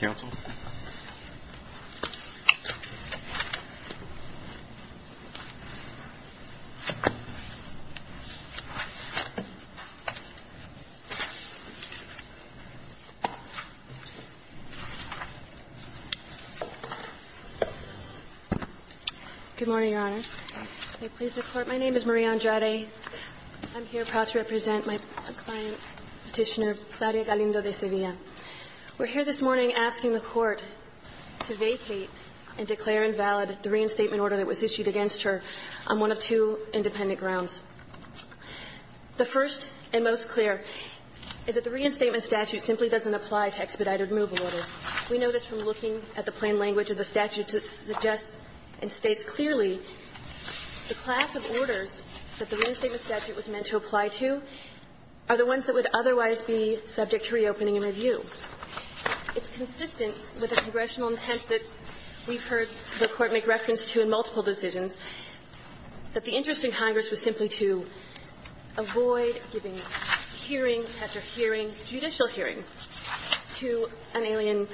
Counsel. Good morning, Your Honor. I please report. My name is Maria Andrade. I'm here proud to represent my client, Petitioner Claudia Galindo DeSevilla. We're here this morning asking the Court to vacate and declare invalid the reinstatement order that was issued against her on one of two independent grounds. The first and most clear is that the reinstatement statute simply doesn't apply to expedited removal orders. We know this from looking at the plain language of the statute that suggests and states clearly the class of orders that the reinstatement statute was meant to apply to are the ones that would otherwise be subject to reopening and review. It's consistent with the congressional intent that we've heard the Court make reference to in multiple decisions, that the interest in Congress was simply to avoid giving hearing after hearing, judicial hearing, to an alien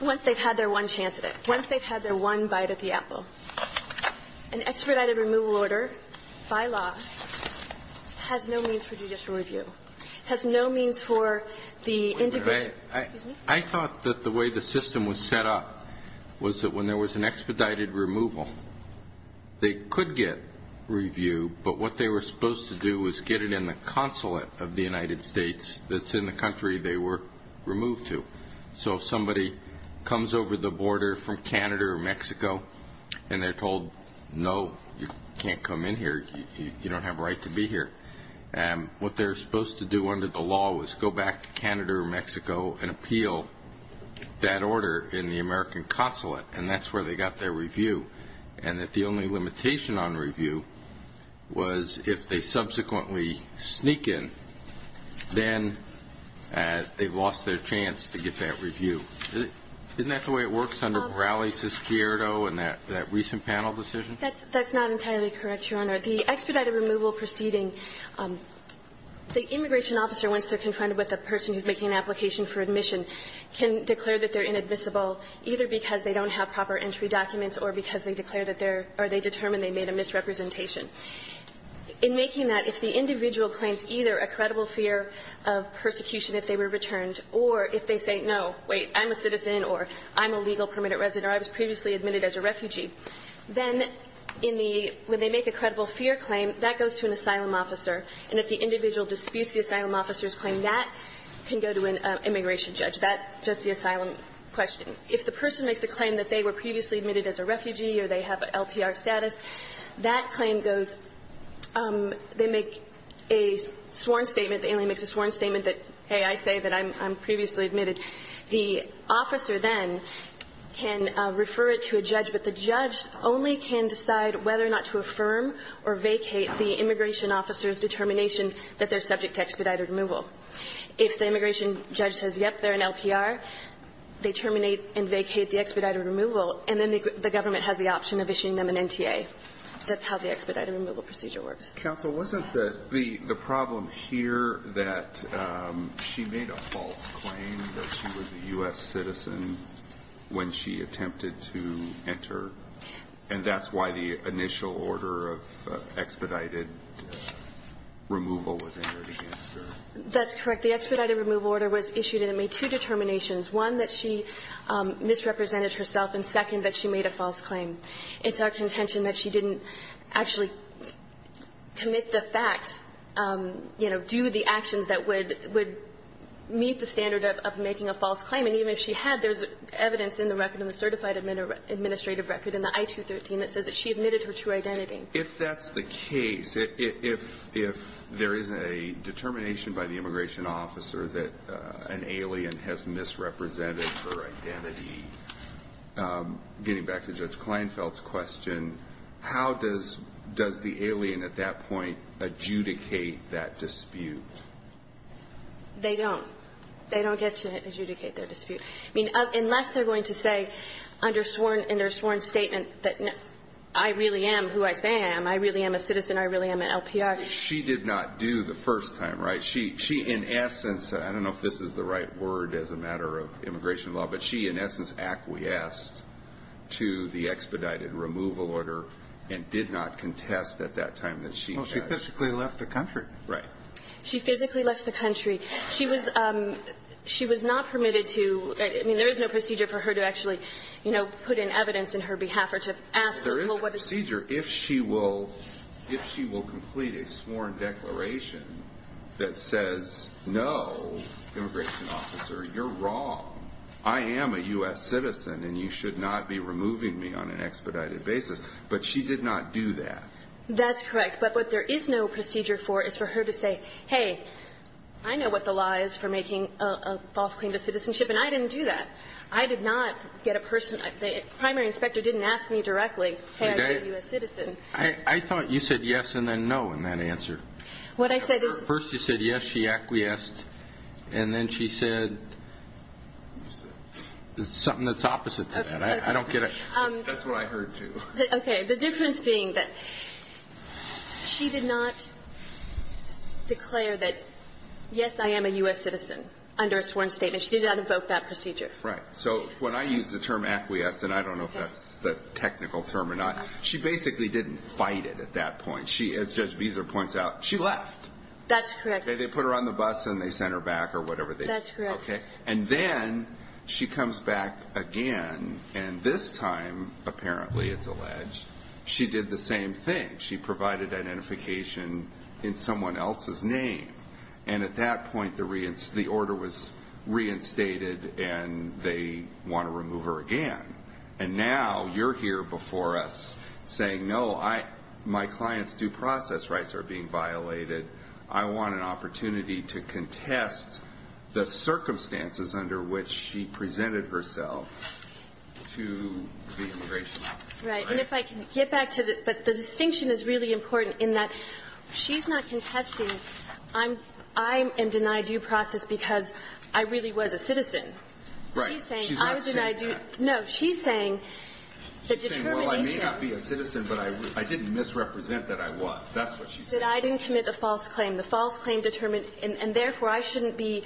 once they've had their one chance at it, once they've had their one bite at the apple. An expedited removal order by law has no means for judicial review, has no means for the individual. I thought that the way the system was set up was that when there was an expedited removal, they could get review, but what they were supposed to do was get it in the consulate of the United States that's in the country they were removed to. So if somebody comes over the border from Canada or Mexico and they're told, no, you can't come in here, you don't have a right to be here, what they're supposed to do under the law was go back to Canada or Mexico and appeal that order in the American consulate, and that's where they got their review. And that the only limitation on review was if they subsequently sneak in, then they've lost their chance to get that review. Isn't that the way it works under Perales-Squierdo and that recent panel decision? That's not entirely correct, Your Honor. The expedited removal proceeding, the immigration officer, once they're confronted with a person who's making an application for admission, can declare that they're inadmissible either because they don't have proper entry documents or because they declare that they're or they determine they made a misrepresentation. In making that, if the individual claims either a credible fear of persecution if they were returned or if they say, no, wait, I'm a citizen or I'm a legal permitted resident or I was previously admitted as a refugee, then in the – when they make a credible fear claim, that goes to an asylum officer. And if the individual disputes the asylum officer's claim, that can go to an immigration judge. That's just the asylum question. If the person makes a claim that they were previously admitted as a refugee or they have LPR status, that claim goes – they make a sworn statement, the alien makes a sworn statement that, hey, I say that I'm previously admitted. The officer then can refer it to a judge, but the judge only can decide whether or not to affirm or vacate the immigration officer's determination that they're subject to expedited removal. If the immigration judge says, yep, they're an LPR, they terminate and vacate the expedited removal, and then the government has the option of issuing them an NTA. That's how the expedited removal procedure works. Alito, wasn't the problem here that she made a false claim that she was a U.S. citizen when she attempted to enter, and that's why the initial order of expedited removal was entered against her? That's correct. The expedited removal order was issued, and it made two determinations, one, that she misrepresented herself, and second, that she made a false claim. It's our contention that she didn't actually commit the facts, you know, do the actions that would meet the standard of making a false claim, and even if she had, there's evidence in the record, in the certified administrative record, in the I-213, that says that she admitted her true identity. If that's the case, if there is a determination by the immigration officer that an alien has misrepresented her identity, getting back to Judge Kleinfeld's question, how does the alien at that point adjudicate that dispute? They don't. They don't get to adjudicate their dispute. I mean, unless they're going to say under sworn statement that I really am who I say I am, I really am a citizen, I really am an LPR. She did not do the first time, right? She, in essence, I don't know if this is the right word as a matter of immigration law, but she, in essence, acquiesced to the expedited removal order and did not contest at that time that she judged. Well, she physically left the country. Right. She physically left the country. She was not permitted to, I mean, there is no procedure for her to actually, you know, put in evidence on her behalf or to ask the people what to say. There is a procedure if she will complete a sworn declaration that says, no, immigration officer, you're wrong. I am a U.S. citizen and you should not be removing me on an expedited basis. But she did not do that. That's correct. But what there is no procedure for is for her to say, hey, I know what the law is for making a false claim to citizenship and I didn't do that. I did not get a person, the primary inspector didn't ask me directly, hey, are you a U.S. citizen? I thought you said yes and then no in that answer. What I said is. First you said yes, she acquiesced and then she said something that's opposite to that. I don't get it. That's what I heard too. Okay. The difference being that she did not declare that, yes, I am a U.S. citizen under a sworn statement. She did not invoke that procedure. Right. So when I use the term acquiesce and I don't know if that's the technical term or not, she basically didn't fight it at that point. She, as Judge Beezer points out, she left. That's correct. They put her on the bus and they sent her back or whatever. That's correct. Okay. And then she comes back again and this time apparently, it's alleged, she did the same thing. She provided identification in someone else's name. And at that point the order was reinstated and they want to remove her again. And now you're here before us saying, no, my client's due process rights are being violated. I want an opportunity to contest the circumstances under which she presented herself to the immigration office. Right. And if I can get back to the, but the distinction is really important in that she's not contesting. I'm, I am denied due process because I really was a citizen. Right. She's saying, I was denied due, no, she's saying, the determination. She's saying, well, I may not be a citizen, but I didn't misrepresent that I was. That's what she said. She said, I didn't commit a false claim. The false claim determined, and therefore I shouldn't be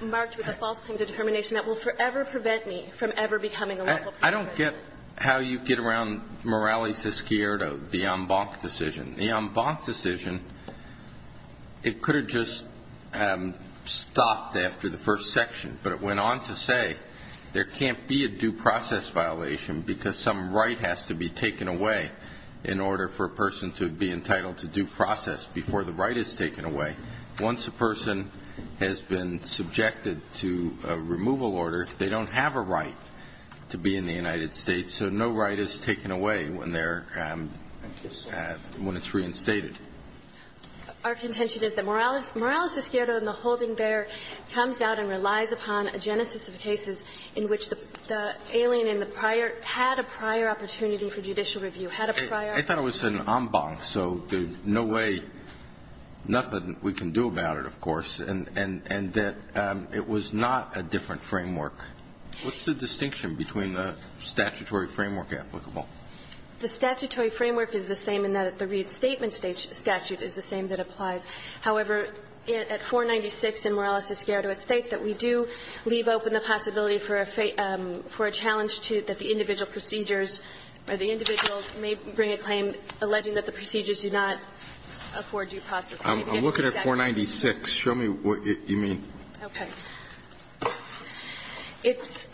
marked with a false claim to determination that will forever prevent me from ever becoming a lawful citizen. I don't get how you get around Morales-Esquiroto, the en banc decision. The en banc decision, it could have just stopped after the first section. But it went on to say, there can't be a due process violation because some right has to be taken away. In order for a person to be entitled to due process before the right is taken away. Once a person has been subjected to a removal order, they don't have a right to be in the United States. So no right is taken away when they're, when it's reinstated. Our contention is that Morales-Esquiroto and the holding there comes out and relies upon a genesis of cases in which the alien in the prior, had a prior opportunity for judicial review, had a prior. I thought it was an en banc, so there's no way, nothing we can do about it, of course. And that it was not a different framework. What's the distinction between the statutory framework applicable? The statutory framework is the same in that the reinstatement statute is the same that applies. However, at 496 in Morales-Esquiroto, it states that we do leave open the possibility for a challenge to, that the individual procedures, or the individual may bring a claim alleging that the procedures do not afford due process. I'm looking at 496. Show me what you mean. Okay. It's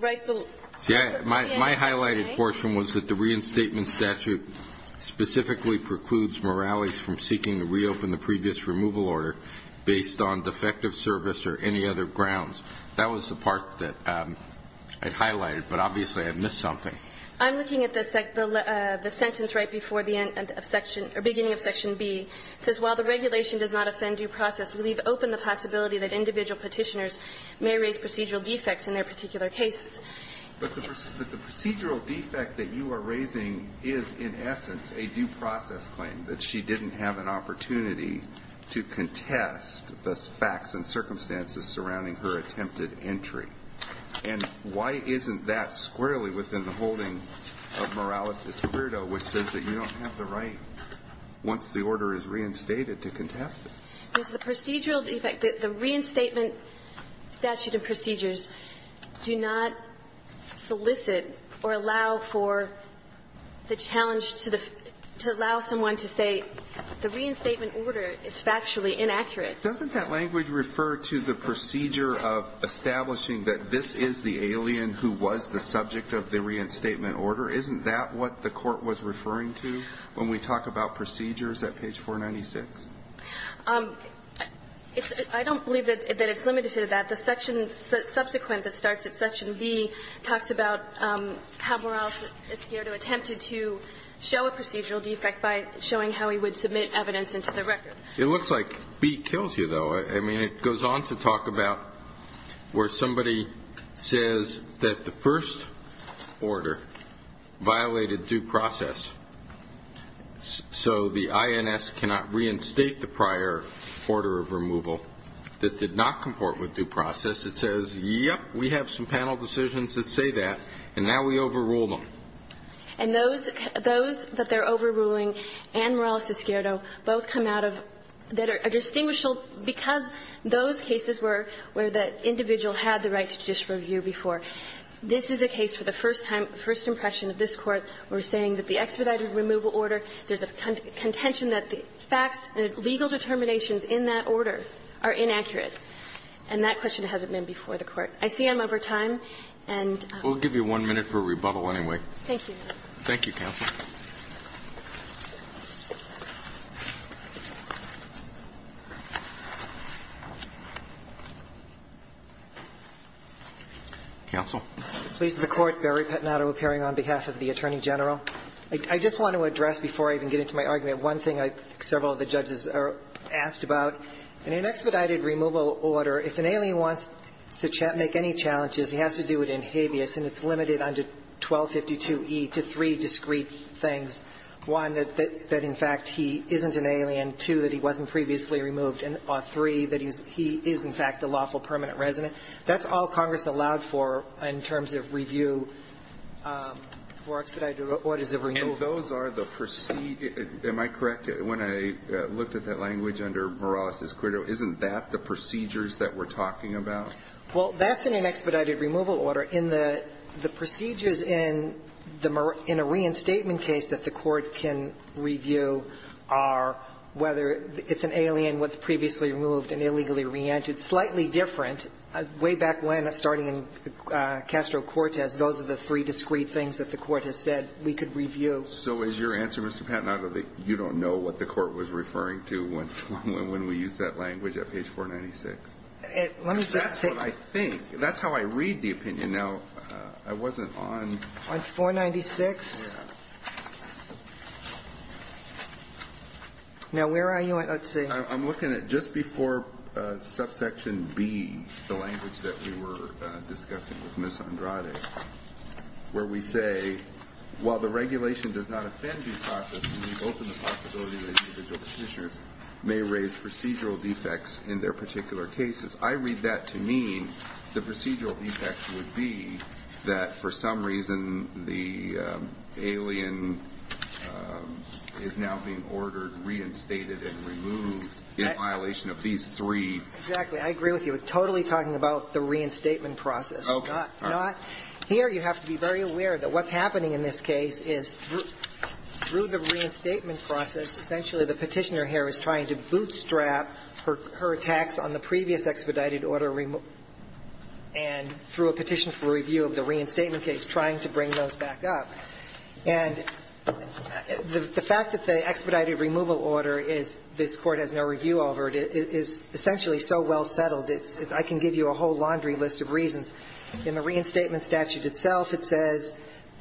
right below. See, my highlighted portion was that the reinstatement statute specifically precludes Morales from seeking to reopen the previous removal order based on defective service or any other grounds. That was the part that I'd highlighted, but obviously I've missed something. I'm looking at the sentence right before the end of Section or beginning of Section B. It says while the regulation does not offend due process, we leave open the possibility that individual Petitioners may raise procedural defects in their particular cases. But the procedural defect that you are raising is, in essence, a due process claim, that she didn't have an opportunity to contest the facts and circumstances surrounding her attempted entry. And why isn't that squarely within the holding of Morales' credo, which says that you don't have the right, once the order is reinstated, to contest it? Because the procedural defect, the reinstatement statute of procedures do not solicit or allow for the challenge to the, to allow someone to say the reinstatement order is factually inaccurate. Doesn't that language refer to the procedure of establishing that this is the alien who was the subject of the reinstatement order? Isn't that what the Court was referring to when we talk about procedures at page 496? I don't believe that it's limited to that. The section, subsequent that starts at Section B, talks about how Morales is here to attempt to show a procedural defect by showing how he would submit evidence into the record. It looks like B kills you, though. I mean, it goes on to talk about where somebody says that the first order violated due process, so the INS cannot reinstate the prior order of removal that did not comport with due process. It says, yep, we have some panel decisions that say that, and now we overrule them. And those, those that they're overruling and Morales-Escuero both come out of, that are distinguishable because those cases were where the individual had the right to disreview before. This is a case for the first time, first impression of this Court where we're saying that the expedited removal order, there's a contention that the facts and the legal determinations in that order are inaccurate. And that question hasn't been before the Court. I see I'm over time, and we'll give you one minute for a rebuttal anyway. Thank you. Thank you, counsel. Counsel. Please. The Court, Barry Pettinato, appearing on behalf of the Attorney General. I just want to address, before I even get into my argument, one thing I think several of the judges are asked about. In an expedited removal order, if an alien wants to make any challenges, he has to do it in habeas, and it's limited under 1252e to three discrete things. One, that, in fact, he isn't an alien. Two, that he wasn't previously removed. And three, that he is, in fact, a lawful permanent resident. That's all Congress allowed for in terms of review for expedited orders of removal. And those are the proceed – am I correct when I looked at that language under Morales-Escuero? Isn't that the procedures that we're talking about? Well, that's in an expedited removal order. In the procedures in the – in a reinstatement case that the Court can review are whether it's an alien, was previously removed and illegally re-entered. Slightly different. Way back when, starting in Castro-Cortez, those are the three discrete things that the Court has said we could review. So is your answer, Mr. Pettinato, that you don't know what the Court was referring to when we use that language at page 496? Let me just take – That's what I think. That's how I read the opinion. Now, I wasn't on – On 496? Yeah. Now, where are you on – let's see. I'm looking at just before subsection B, the language that we were discussing with Ms. Andrade, where we say, while the regulation does not offend due process, we've opened the possibility that individual Petitioners may raise procedural defects in their particular cases. I read that to mean the procedural defect would be that, for some reason, the alien is now being ordered, reinstated, and removed in violation of these three. Exactly. I agree with you. We're totally talking about the reinstatement process. Okay. Not – here, you have to be very aware that what's happening in this case is, through the reinstatement process, essentially the Petitioner here is trying to bootstrap her attacks on the previous expedited order, and through a petition for review of the reinstatement case, trying to bring those back up. And the fact that the expedited removal order is – this Court has no review over it is essentially so well settled, I can give you a whole laundry list of reasons. In the reinstatement statute itself, it says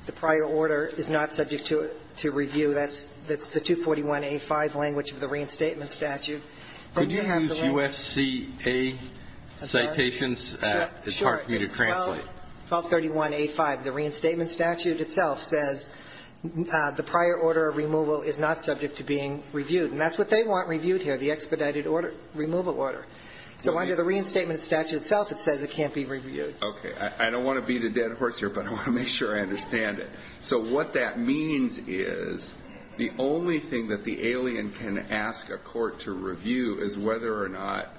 the prior order is not subject to review. That's the 241a5 language of the reinstatement statute. Could you use U.S.C.A. citations? It's hard for me to translate. Sure. It's 1231a5. The reinstatement statute itself says the prior order of removal is not subject to being reviewed. And that's what they want reviewed here, the expedited order – removal order. So under the reinstatement statute itself, it says it can't be reviewed. Okay. I don't want to beat a dead horse here, but I want to make sure I understand it. So what that means is the only thing that the alien can ask a court to review is whether or not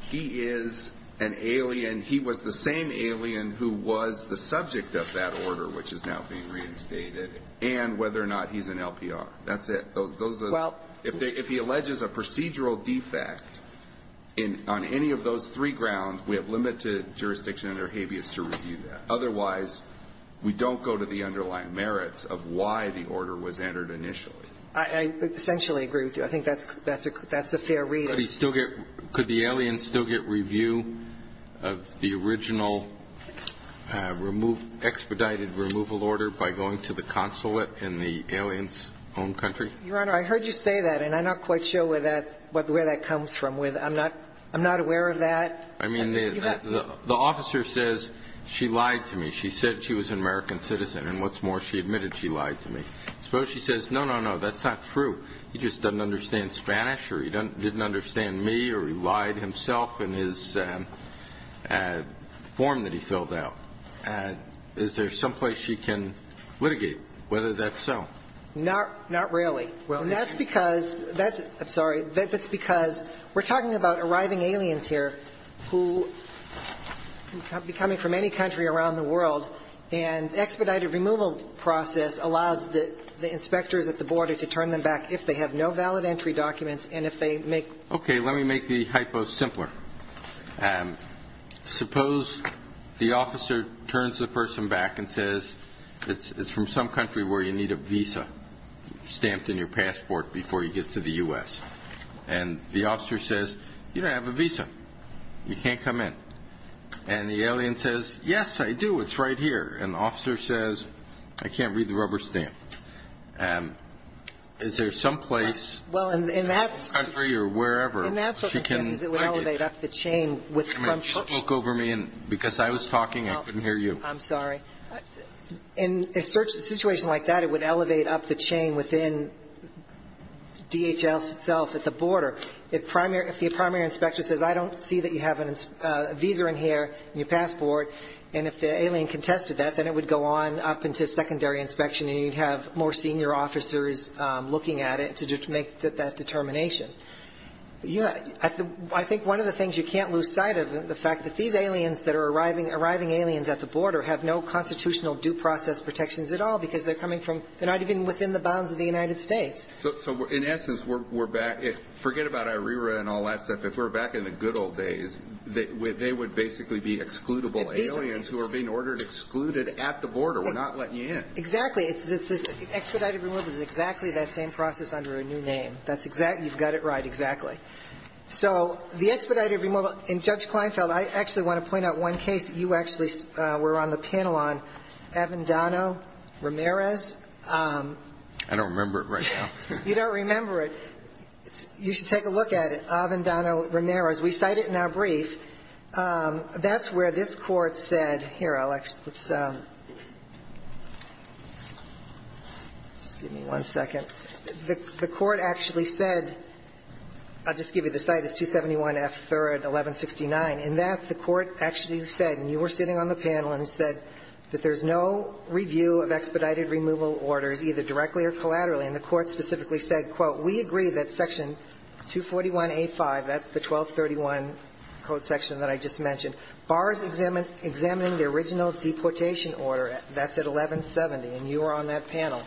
he is an alien – he was the same alien who was the subject of that order, which is now being reinstated, and whether or not he's an LPR. That's it. Those are – if he alleges a procedural defect on any of those three grounds, we have limited jurisdiction under habeas to review that. Otherwise, we don't go to the underlying merits of why the order was entered initially. I – I essentially agree with you. I think that's a – that's a fair reading. Could he still get – could the alien still get review of the original expedited removal order by going to the consulate in the alien's home country? Your Honor, I heard you say that, and I'm not quite sure where that – where that comes from. I'm not – I'm not aware of that. I mean, the – the officer says, she lied to me. She said she was an American citizen, and what's more, she admitted she lied to me. Suppose she says, no, no, no, that's not true. He just doesn't understand Spanish, or he didn't understand me, or he lied himself in his form that he filled out. Is there some place she can litigate whether that's so? Not – not really. Well, that's because – that's – I'm sorry. That's because we're talking about arriving aliens here who – coming from any country around the world, and expedited removal process allows the – the inspectors at the border to turn them back if they have no valid entry documents, and if they make – Okay. Let me make the hypo simpler. Suppose the officer turns the person back and says, it's – it's from some country where you need a visa stamped in your passport before you get to the U.S. And the officer says, you don't have a visa. You can't come in. And the alien says, yes, I do, it's right here. And the officer says, I can't read the rubber stamp. Is there some place in the country or wherever she can litigate? Well, in that – in that circumstances, it would elevate up the chain with – You spoke over me, and because I was talking, I couldn't hear you. I'm sorry. In a situation like that, it would elevate up the chain within DHS itself at the border. If the primary inspector says, I don't see that you have a visa in here, in your passport, and if the alien contested that, then it would go on up into secondary inspection, and you'd have more senior officers looking at it to make that determination. I think one of the things you can't lose sight of, the fact that these aliens that are arriving – arriving aliens at the border have no constitutional due process protections at all, because they're coming from – they're not even within the bounds of the United States. So in essence, we're back – forget about IRERA and all that stuff. If we're back in the good old days, they would basically be excludable aliens who are being ordered excluded at the border. We're not letting you in. Exactly. It's this – expedited removal is exactly that same process under a new name. That's exactly – you've got it right. Exactly. So the expedited removal – and, Judge Kleinfeld, I actually want to point out one case that you actually were on the panel on, Avendano-Ramirez. I don't remember it right now. You don't remember it. You should take a look at it, Avendano-Ramirez. We cite it in our brief. That's where this Court said – here, Alex, let's – just give me one second. The Court actually said – I'll just give you the cite. It's 271 F. 3rd, 1169. In that, the Court actually said – and you were sitting on the panel – and said that there's no review of expedited removal orders, either directly or collaterally. And the Court specifically said, quote, we agree that Section 241A.5 – that's the 1231 code section that I just mentioned – bars examining the original deportation order. That's at 1170. And you were on that panel.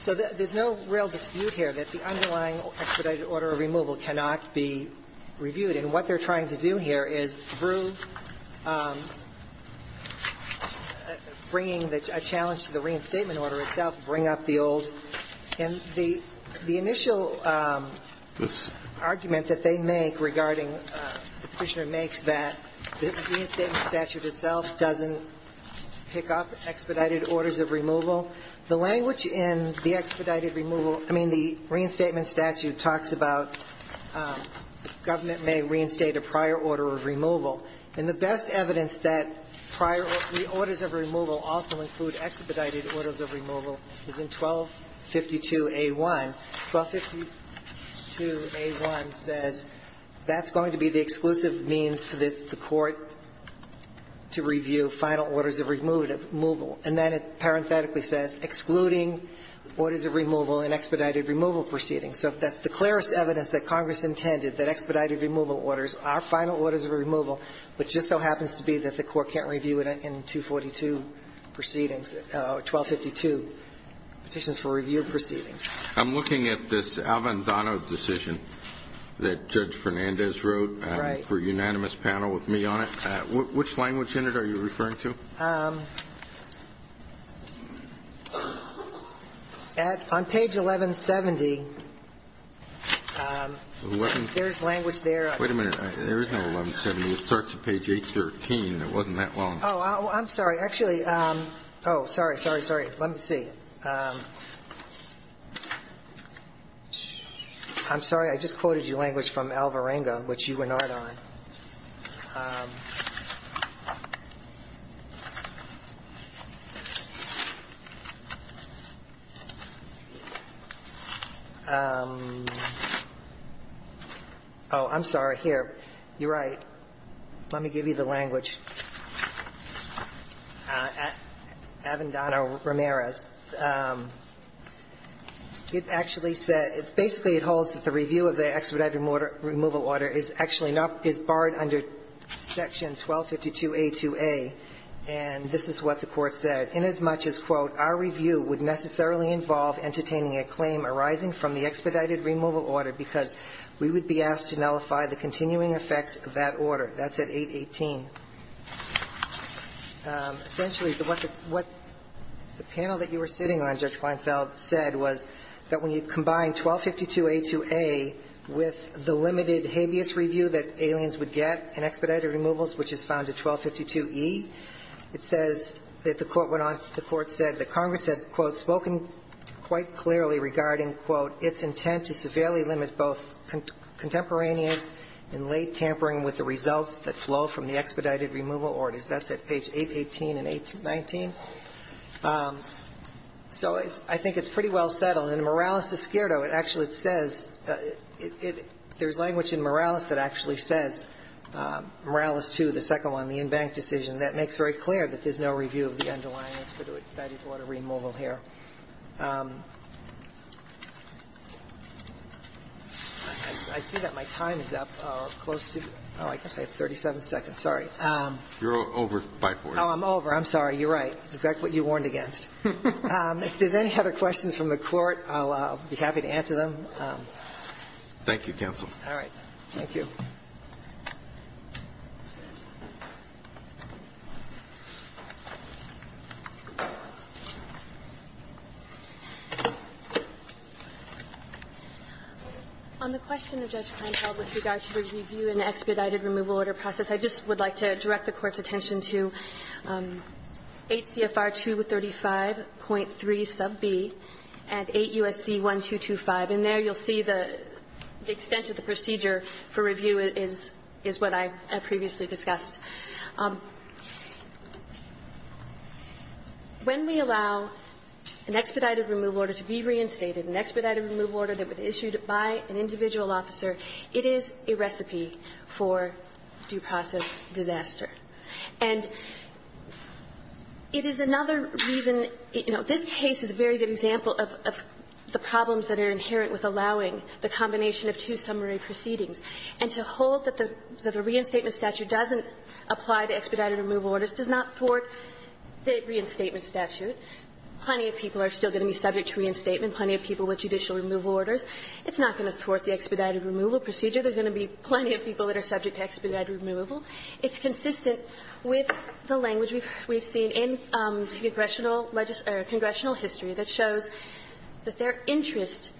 So there's no real dispute here that the underlying expedited order of removal cannot be reviewed. And what they're trying to do here is, through bringing a challenge to the reinstatement order itself, bring up the old – and the initial argument that they make regarding the Petitioner makes that the reinstatement statute itself doesn't pick up expedited orders of removal. The language in the expedited removal – I mean, the reinstatement statute talks about government may reinstate a prior order of removal. And the best evidence that prior – the orders of removal also include expedited orders of removal is in 1252A.1. 1252A.1 says that's going to be the exclusive means for the Court to review final orders of removal. And then it parenthetically says, excluding orders of removal in expedited removal proceedings. So if that's the clearest evidence that Congress intended, that expedited removal orders are final orders of removal, which just so happens to be that the Court can't review it in 242 proceedings – 1252 petitions for review proceedings. I'm looking at this Alvandano decision that Judge Fernandez wrote for a unanimous panel with me on it. Right. Which language in it are you referring to? At – on page 1170, there's language there. Wait a minute. There is no 1170. It starts at page 813. It wasn't that long. Oh, I'm sorry. Actually – oh, sorry, sorry, sorry. Let me see. I'm sorry. I just quoted your language from Alvarenga, which you were not on. Oh, I'm sorry. Here. You're right. Let me give you the language. Alvandano-Ramirez. It actually said – it basically holds that the review of the expedited removal order is actually not – is barred under section 1252a2a, and this is what the Court said. Inasmuch as, quote, our review would necessarily involve entertaining a claim arising from the expedited removal order because we would be asked to nullify the continuing effects of that order. That's at 818. Essentially, what the – what the panel that you were sitting on, Judge Weinfeld, said was that when you combine 1252a2a with the limited habeas review that aliens would get in expedited removals, which is found in 1252e, it says that the Court went on – the Court said that Congress had, quote, spoken quite clearly regarding, quote, its intent to severely limit both contemporaneous and late tampering with the results that flow from the expedited removal orders. That's at page 818 and 819. So I think it's pretty well settled. In Morales-Escuero, it actually says – there's language in Morales that actually says – Morales 2, the second one, the in-bank decision – that makes very clear that there's no review of the underlying expedited order removal here. I see that my time is up. Close to – oh, I guess I have 37 seconds. Sorry. You're over 5 minutes. Oh, I'm over. I'm sorry. You're right. It's exactly what you warned against. If there's any other questions from the Court, I'll be happy to answer them. Thank you, counsel. All right. Thank you. On the question of Judge Kleinfeld with regard to the review in the expedited removal order process, I just would like to direct the Court's attention to 8 CFR 235.3 sub b and 8 U.S.C. 1225. And there you'll see the extent of the procedure for review in the expedited removal order process. This is what I previously discussed. When we allow an expedited removal order to be reinstated, an expedited removal order that was issued by an individual officer, it is a recipe for due process disaster. And it is another reason – you know, this case is a very good example of the problems that are inherent with allowing the combination of two summary proceedings. And to hold that the reinstatement statute doesn't apply to expedited removal orders does not thwart the reinstatement statute. Plenty of people are still going to be subject to reinstatement, plenty of people with judicial removal orders. It's not going to thwart the expedited removal procedure. There's going to be plenty of people that are subject to expedited removal. It's consistent with the language we've seen in congressional history that shows that their interest,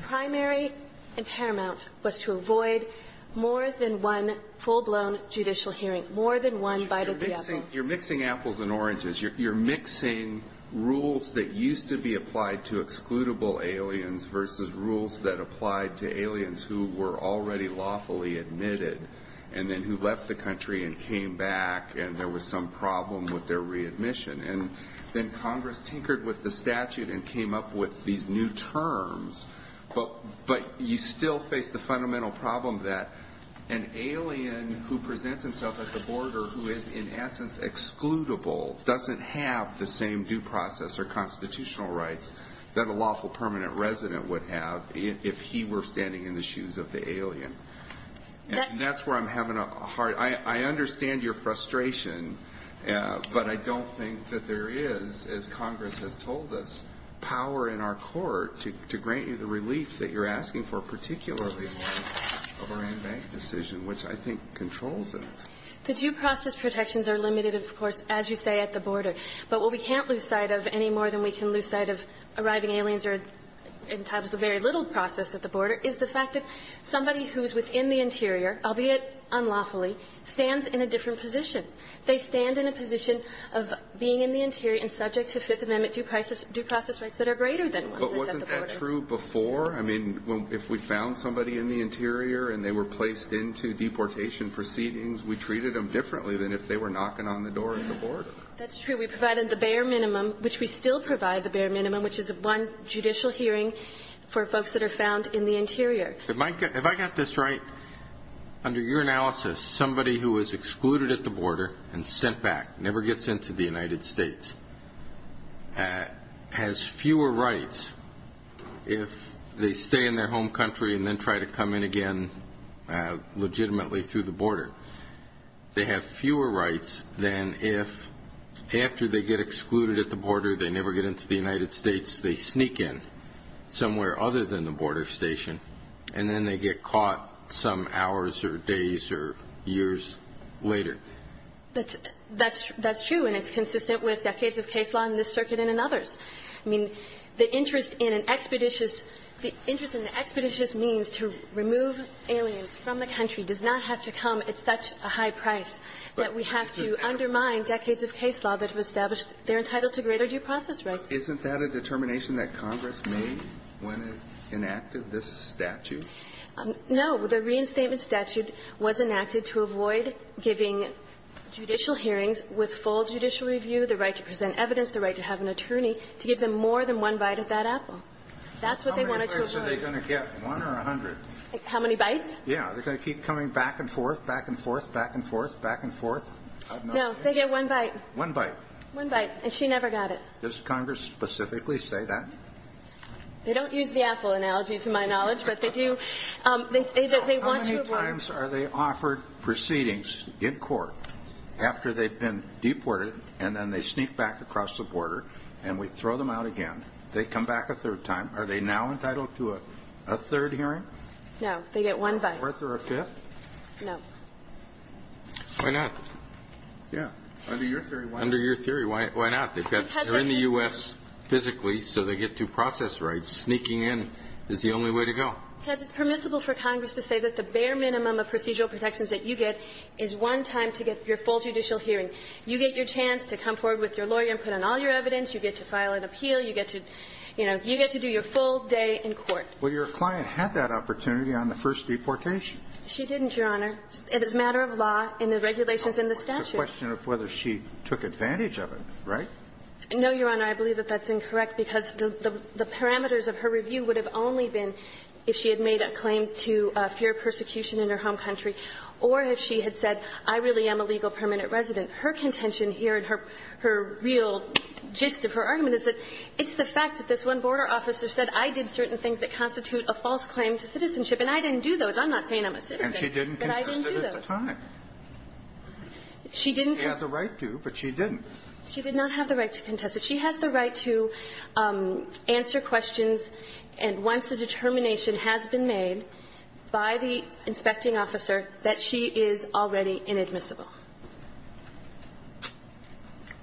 primary and paramount, was to avoid more than one full-blown judicial hearing, more than one bite at the apple. You're mixing apples and oranges. You're mixing rules that used to be applied to excludable aliens versus rules that applied to aliens who were already lawfully admitted and then who left the country and came back and there was some problem with their readmission. And then Congress tinkered with the statute and came up with these new terms. But you still face the fundamental problem that an alien who presents himself at the border who is, in essence, excludable doesn't have the same due process or constitutional rights that a lawful permanent resident would have if he were standing in the shoes of the alien. And that's where I'm having a hard – I understand your frustration, but I don't think that there is, as Congress has told us, power in our court to grant you the relief that you're asking for, particularly of our in-bank decision, which I think controls it. The due process protections are limited, of course, as you say, at the border. But what we can't lose sight of any more than we can lose sight of arriving aliens or in times of very little process at the border is the fact that somebody who's within the interior, albeit unlawfully, stands in a different position. They stand in a position of being in the interior and subject to Fifth Amendment due process rights that are greater than one that's at the border. But wasn't that true before? I mean, if we found somebody in the interior and they were placed into deportation proceedings, we treated them differently than if they were knocking on the door at the border. That's true. We provided the bare minimum, which we still provide the bare minimum, which is one judicial hearing for folks that are found in the interior. If I got this right, under your analysis, somebody who is excluded at the border and sent back, never gets into the United States, has fewer rights if they stay in their home country and then try to come in again legitimately through the border. They have fewer rights than if after they get excluded at the border, they never get into the United States. They sneak in somewhere other than the border station, and then they get caught some hours or days or years later. That's true. And it's consistent with decades of case law in this Circuit and in others. I mean, the interest in an expeditious means to remove aliens from the country does not have to come at such a high price that we have to undermine decades of case law that have established they're entitled to greater due process rights. Isn't that a determination that Congress made when it enacted this statute? No. The reinstatement statute was enacted to avoid giving judicial hearings with full judicial review the right to present evidence, the right to have an attorney, to give them more than one bite of that apple. That's what they wanted to avoid. How many bites are they going to get, one or a hundred? How many bites? Yeah. They're going to keep coming back and forth, back and forth, back and forth, back and forth. One bite. One bite, and she never got it. Does Congress specifically say that? They don't use the apple analogy, to my knowledge, but they do. They say that they want to avoid. How many times are they offered proceedings in court after they've been deported and then they sneak back across the border and we throw them out again, they come back a third time, are they now entitled to a third hearing? No. They get one bite. A fourth or a fifth? No. Why not? Yeah. Under your theory, why not? Under your theory, why not? They're in the U.S. physically, so they get due process rights. Sneaking in is the only way to go. Because it's permissible for Congress to say that the bare minimum of procedural protections that you get is one time to get your full judicial hearing. You get your chance to come forward with your lawyer and put in all your evidence. You get to file an appeal. You get to, you know, you get to do your full day in court. Well, your client had that opportunity on the first deportation. She didn't, Your Honor. It is a matter of law and the regulations in the statute. It's a question of whether she took advantage of it, right? No, Your Honor. I believe that that's incorrect, because the parameters of her review would have only been if she had made a claim to fear of persecution in her home country or if she had said, I really am a legal permanent resident. Her contention here and her real gist of her argument is that it's the fact that this one border officer said I did certain things that constitute a false claim to citizenship, and I didn't do those. I'm not saying I'm a citizen. And she didn't contest it at the time. But I didn't do those. She didn't. She had the right to, but she didn't. She did not have the right to contest it. She has the right to answer questions, and once the determination has been made by the inspecting officer, that she is already inadmissible.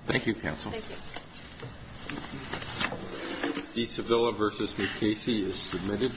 Thank you, counsel. Thank you. The Sevilla v. McCasey is submitted.